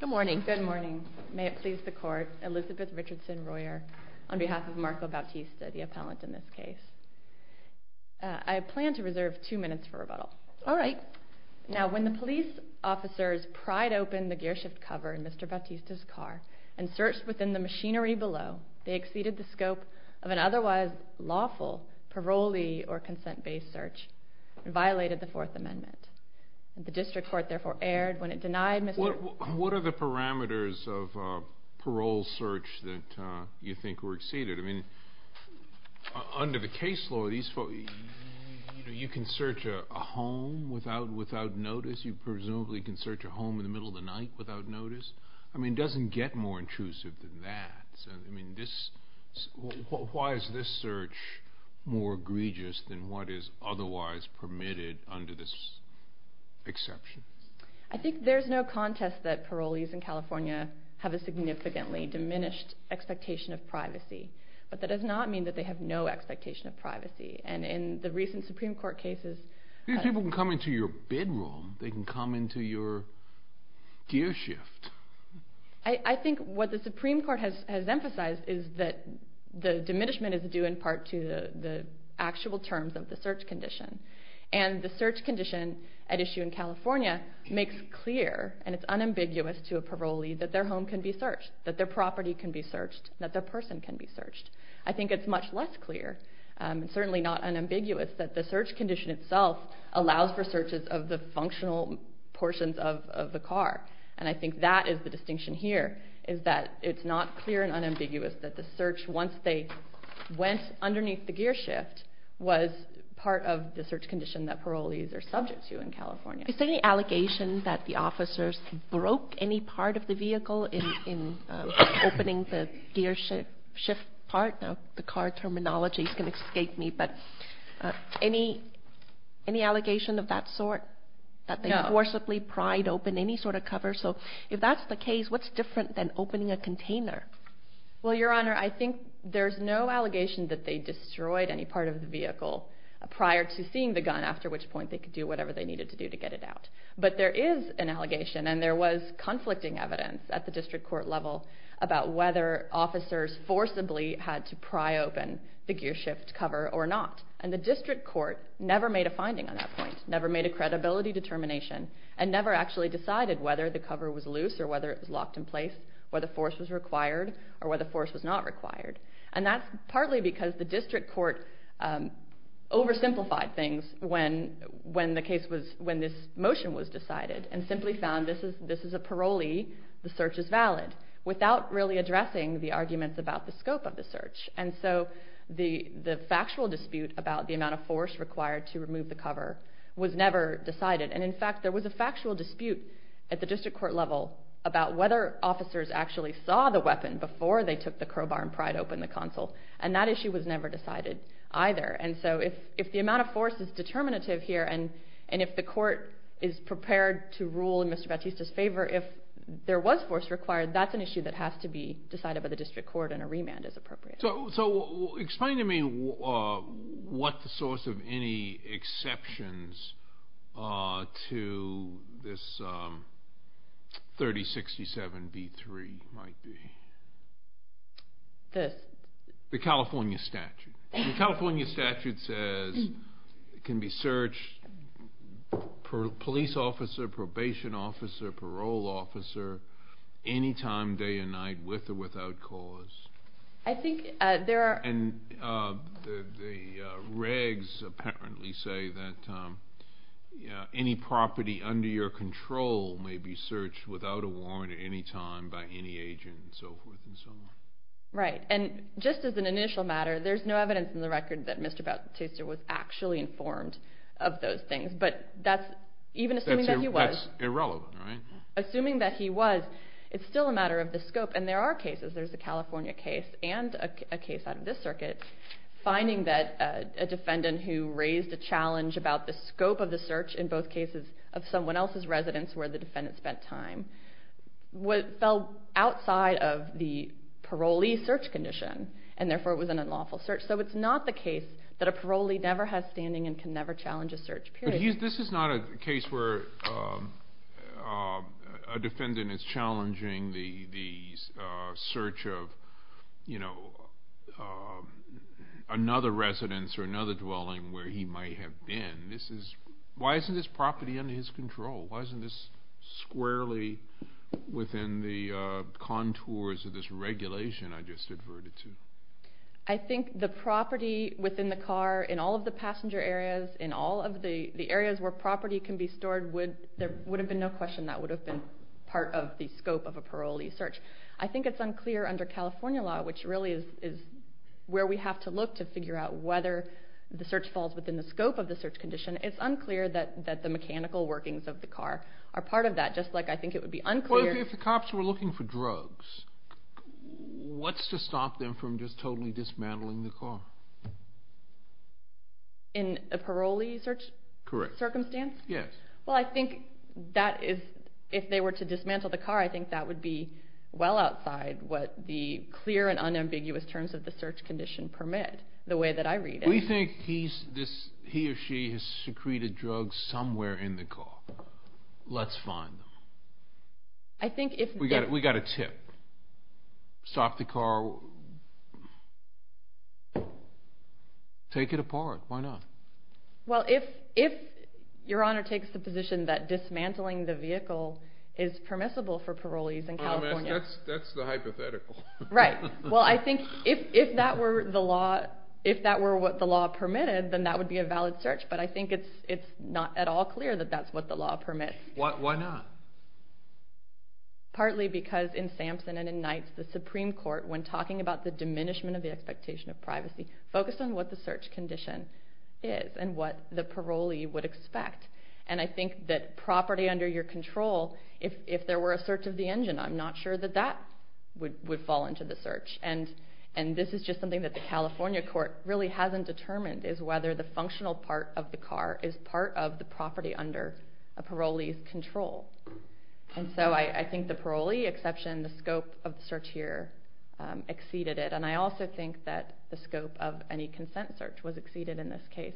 Good morning. May it please the court, Elizabeth Richardson Royer on behalf of Marco Bautista, the appellant in this case. I plan to reserve two minutes for rebuttal. Alright. Now, when the police officers pried open the gearshift cover in Mr. Bautista's car and searched within the machinery below, they exceeded the scope of an otherwise lawful parolee or consent-based search and violated the Fourth Amendment. The district court therefore erred when it denied Mr. Bautista... What are the parameters of a parole search that you think were exceeded? I mean, under the case law, you can search a home without notice. You presumably can search a home in the middle of the night without notice. I mean, it doesn't get more intrusive than that. I mean, why is this search more egregious than what is otherwise permitted under this exception? I think there's no contest that parolees in California have a significantly diminished expectation of privacy. But that does not mean that they have no expectation of privacy. And in the recent Supreme Court cases... These people can come into your bedroom. They can come into your gearshift. I think what the Supreme Court has emphasized is that the diminishment is due in part to the actual terms of the search condition. And the search condition at issue in California makes clear, and it's unambiguous to a parolee, that their home can be searched, that their property can be searched, that their person can be searched. I think it's much less clear, and certainly not unambiguous, that the search condition itself allows for searches of the functional portions of the car. And I think that is the distinction here, is that it's not clear and unambiguous that the search, once they went underneath the gearshift, was part of the search condition that parolees are subject to in California. Is there any allegation that the officers broke any part of the vehicle in opening the gearshift part? Now, the car terminology can escape me, but any allegation of that sort? That they forcibly pried open any sort of cover? So if that's the case, what's different than opening a container? Well, Your Honor, I think there's no allegation that they destroyed any part of the vehicle prior to seeing the gun, after which point they could do whatever they needed to do to get it out. But there is an allegation, and there was conflicting evidence at the district court level, about whether officers forcibly had to pry open the gearshift cover or not. And the district court never made a finding on that point, never made a credibility determination, and never actually decided whether the cover was loose or whether it was locked in place, whether force was required or whether force was not required. And that's partly because the district court oversimplified things when this motion was decided and simply found this is a parolee, the search is valid, without really addressing the arguments about the scope of the search. And so the factual dispute about the amount of force required to remove the cover was never decided. And in fact, there was a factual dispute at the district court level about whether officers actually saw the weapon before they took the crowbar and pried open the console. And that issue was never decided either. And so if the amount of force is determinative here, and if the court is prepared to rule in Mr. Batista's favor, if there was force required, that's an issue that has to be decided by the district court and a remand is appropriate. So explain to me what the source of any exceptions to this 3067B3 might be. The California statute. The California statute says it can be searched for a police officer, probation officer, parole officer, any time day and night, with or without cause. And the regs apparently say that any property under your control may be searched without a warrant at any time by any agent and so forth and so on. Right. And just as an initial matter, there's no evidence in the record that Mr. Batista was actually informed of those things. That's irrelevant, right? Assuming that he was, it's still a matter of the scope. And there are cases. There's a California case and a case out of this circuit finding that a defendant who raised a challenge about the scope of the search in both cases of someone else's residence where the defendant spent time fell outside of the parolee search condition, and therefore it was an unlawful search. So it's not the case that a parolee never has standing and can never challenge a search, period. This is not a case where a defendant is challenging the search of, you know, another residence or another dwelling where he might have been. Why isn't this property under his control? Why isn't this squarely within the contours of this regulation I just adverted to? I think the property within the car in all of the passenger areas, in all of the areas where property can be stored, there would have been no question that would have been part of the scope of a parolee search. I think it's unclear under California law, which really is where we have to look to figure out whether the search falls within the scope of the search condition. It's unclear that the mechanical workings of the car are part of that, just like I think it would be unclear. Well, if the cops were looking for drugs, what's to stop them from just totally dismantling the car? In a parolee search circumstance? Correct. Yes. Well, I think that is, if they were to dismantle the car, I think that would be well outside what the clear and unambiguous terms of the search condition permit, the way that I read it. We think he or she has secreted drugs somewhere in the car. Let's find them. We've got a tip. Stop the car. Take it apart. Why not? Well, if Your Honor takes the position that dismantling the vehicle is permissible for parolees in California. That's the hypothetical. Right. Well, I think if that were what the law permitted, then that would be a valid search, but I think it's not at all clear that that's what the law permits. Why not? Partly because in Sampson and in Knights, the Supreme Court, when talking about the diminishment of the expectation of privacy, focused on what the search condition is and what the parolee would expect. And I think that property under your control, if there were a search of the engine, I'm not sure that that would fall into the search. And this is just something that the California court really hasn't determined, is whether the functional part of the car is part of the property under a parolee's control. And so I think the parolee exception, the scope of the search here, exceeded it. And I also think that the scope of any consent search was exceeded in this case.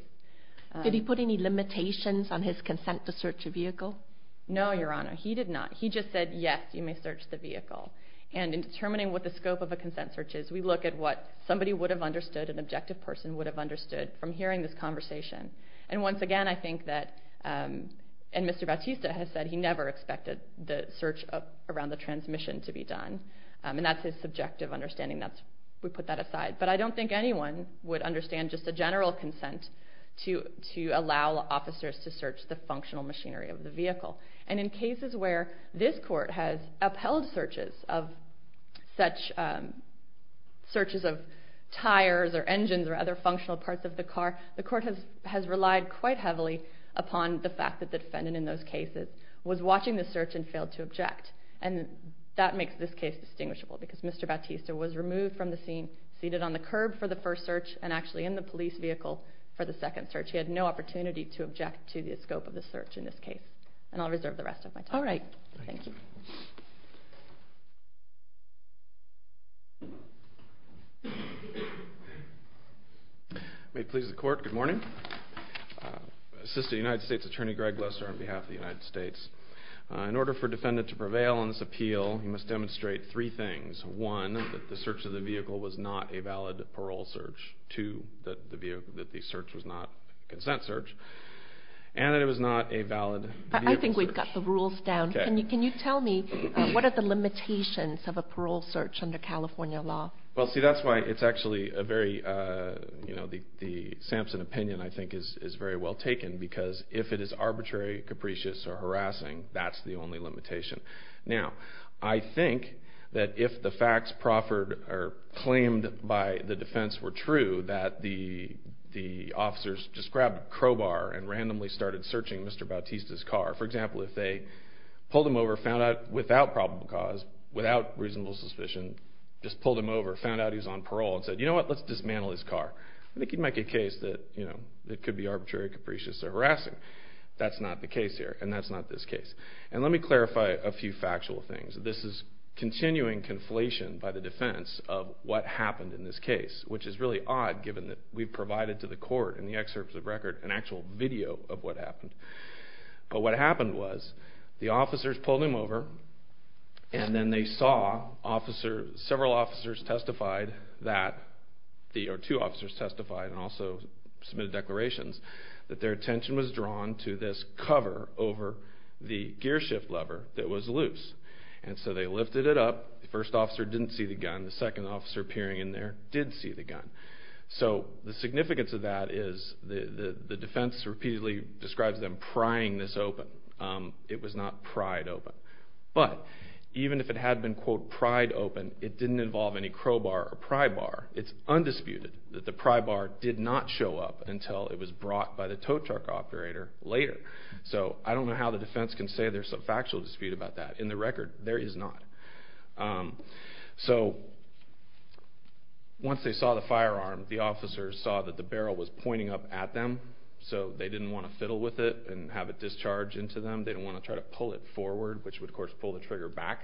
Did he put any limitations on his consent to search a vehicle? No, Your Honor. He did not. He just said, yes, you may search the vehicle. And in determining what the scope of a consent search is, we look at what somebody would have understood, an objective person would have understood from hearing this conversation. And once again, I think that, and Mr. Bautista has said, he never expected the search around the transmission to be done. And that's his subjective understanding. We put that aside. But I don't think anyone would understand just a general consent to allow officers to search the functional machinery of the vehicle. And in cases where this court has upheld searches of such, searches of tires or engines or other functional parts of the car, the court has relied quite heavily upon the fact that the defendant in those cases was watching the search and failed to object. And that makes this case distinguishable, because Mr. Bautista was removed from the scene, seated on the curb for the first search, and actually in the police vehicle for the second search. He had no opportunity to object to the scope of the search in this case. And I'll reserve the rest of my time. All right. Thank you. May it please the court, good morning. Assistant United States Attorney Greg Lesser on behalf of the United States. In order for a defendant to prevail on this appeal, he must demonstrate three things. One, that the search of the vehicle was not a valid parole search. Two, that the search was not a consent search. And that it was not a valid vehicle search. I think we've got the rules down. Can you tell me what are the limitations of a parole search under California law? Well, see, that's why it's actually a very, you know, the Sampson opinion, I think, is very well taken, because if it is arbitrary, capricious, or harassing, that's the only limitation. Now, I think that if the facts proffered or claimed by the defense were true, that the officers just grabbed a crowbar and randomly started searching Mr. Bautista's car. For example, if they pulled him over, found out without probable cause, without reasonable suspicion, just pulled him over, found out he was on parole, and said, you know what, let's dismantle his car. I think you'd make a case that, you know, it could be arbitrary, capricious, or harassing. That's not the case here, and that's not this case. And let me clarify a few factual things. This is continuing conflation by the defense of what happened in this case, which is really odd, given that we've provided to the court, in the excerpts of record, an actual video of what happened. But what happened was, the officers pulled him over, and then they saw several officers testified that, or two officers testified, and also submitted declarations, that their attention was drawn to this cover over the gear shift lever that was loose. And so they lifted it up, the first officer didn't see the gun, and the second officer peering in there did see the gun. So the significance of that is the defense repeatedly describes them prying this open. It was not pried open. But even if it had been, quote, pried open, it didn't involve any crowbar or pry bar. It's undisputed that the pry bar did not show up until it was brought by the tow truck operator later. So I don't know how the defense can say there's some factual dispute about that. In the record, there is not. So once they saw the firearm, the officers saw that the barrel was pointing up at them, so they didn't want to fiddle with it and have it discharge into them. They didn't want to try to pull it forward, which would, of course, pull the trigger back,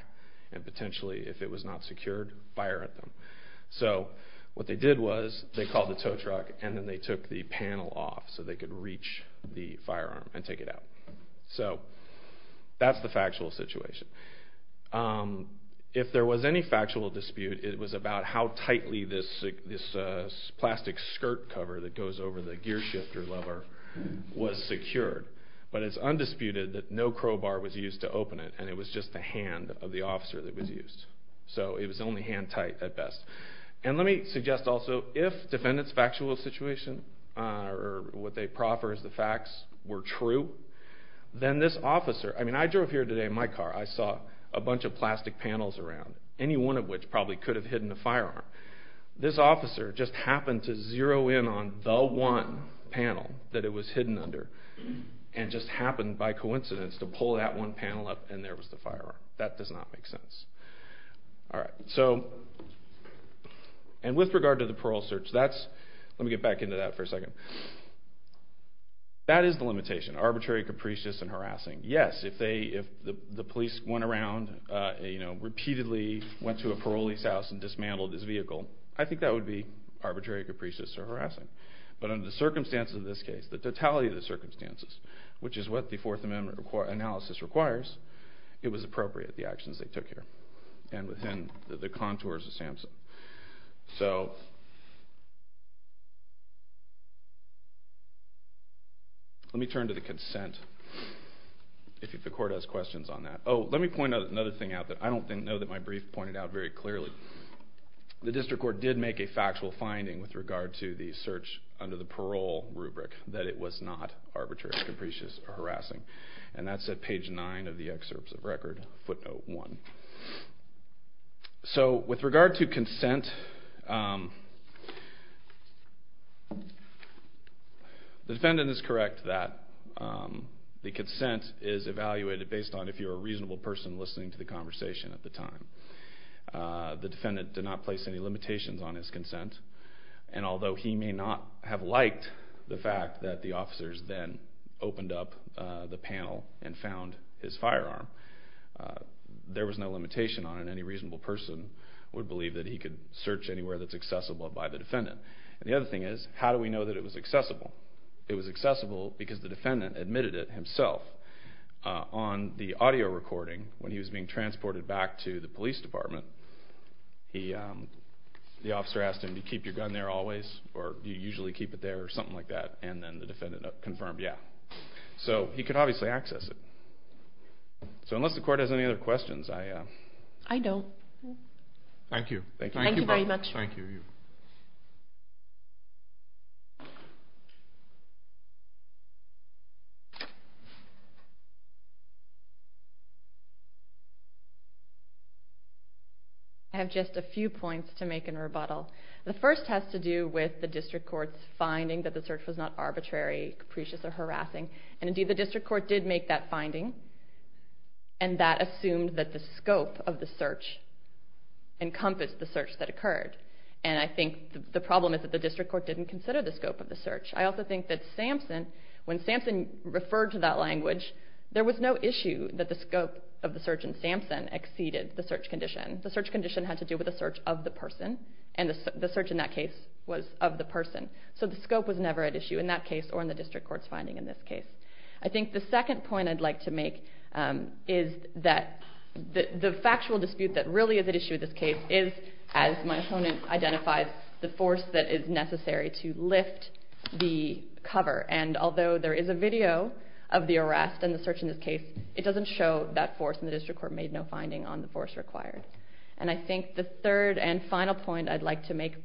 and potentially, if it was not secured, fire at them. So what they did was they called the tow truck, and then they took the panel off so they could reach the firearm and take it out. So that's the factual situation. If there was any factual dispute, it was about how tightly this plastic skirt cover that goes over the gear shifter lever was secured. But it's undisputed that no crowbar was used to open it, and it was just the hand of the officer that was used. So it was only hand-tight at best. And let me suggest also, if defendants' factual situation or what they proffer as the facts were true, then this officer... I mean, I drove here today in my car. I saw a bunch of plastic panels around, any one of which probably could have hidden a firearm. This officer just happened to zero in on the one panel that it was hidden under and just happened by coincidence to pull that one panel up, and there was the firearm. That does not make sense. All right, so... And with regard to the parole search, that's... Let me get back into that for a second. That is the limitation, arbitrary, capricious, and harassing. Yes, if the police went around, you know, repeatedly went to a parolee's house and dismantled his vehicle, I think that would be arbitrary, capricious, or harassing. But under the circumstances of this case, the totality of the circumstances, which is what the Fourth Amendment analysis requires, it was appropriate, the actions they took here, and within the contours of SAMHSA. So... Let me turn to the consent, if the court has questions on that. Oh, let me point out another thing. I don't know that my brief pointed out very clearly. The district court did make a factual finding with regard to the search under the parole rubric that it was not arbitrary, capricious, or harassing. And that's at page 9 of the excerpts of record, footnote 1. So with regard to consent... The defendant is correct that the consent is evaluated based on if you're a reasonable person listening to the conversation at the time. The defendant did not place any limitations on his consent. And although he may not have liked the fact that the officers then opened up the panel and found his firearm, there was no limitation on it. Any reasonable person would believe that he could search anywhere that's accessible by the defendant. And the other thing is, how do we know that it was accessible? It was accessible because the defendant admitted it himself. On the audio recording, when he was being transported back to the police department, the officer asked him, do you keep your gun there always, or do you usually keep it there, or something like that, and then the defendant confirmed, yeah. So he could obviously access it. So unless the court has any other questions, I... I don't. Thank you. Thank you very much. Thank you. I have just a few points to make in rebuttal. The first has to do with the district court's finding that the search was not arbitrary, capricious, or harassing. And indeed, the district court did make that finding, and that assumed that the scope of the search encompassed the search that occurred. And I think the problem is that the district court didn't consider the scope of the search. I also think that Samson, when Samson referred to that language, there was no issue that the scope of the search in Samson exceeded the search condition. The search condition had to do with the search of the person, and the search in that case was of the person. So the scope was never at issue in that case or in the district court's finding in this case. I think the second point I'd like to make is that the factual dispute that really is at issue in this case is, as my opponent identifies, the force that is necessary to lift the cover. And although there is a video of the arrest and the search in this case, it doesn't show that force, and the district court made no finding on the force required. And I think the third and final point I'd like to make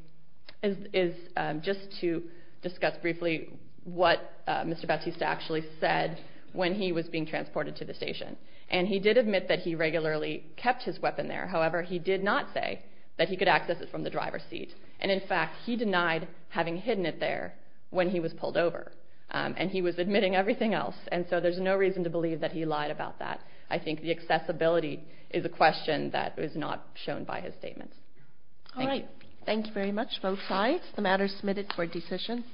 is just to discuss briefly what Mr. Batista actually said when he was being transported to the station. And he did admit that he regularly kept his weapon there. However, he did not say that he could access it from the driver's seat. And in fact, he denied having hidden it there when he was pulled over. And he was admitting everything else. And so there's no reason to believe that he lied about that. I think the accessibility is a question that is not shown by his statement. All right. Thank you very much, both sides. The matter is submitted for decision.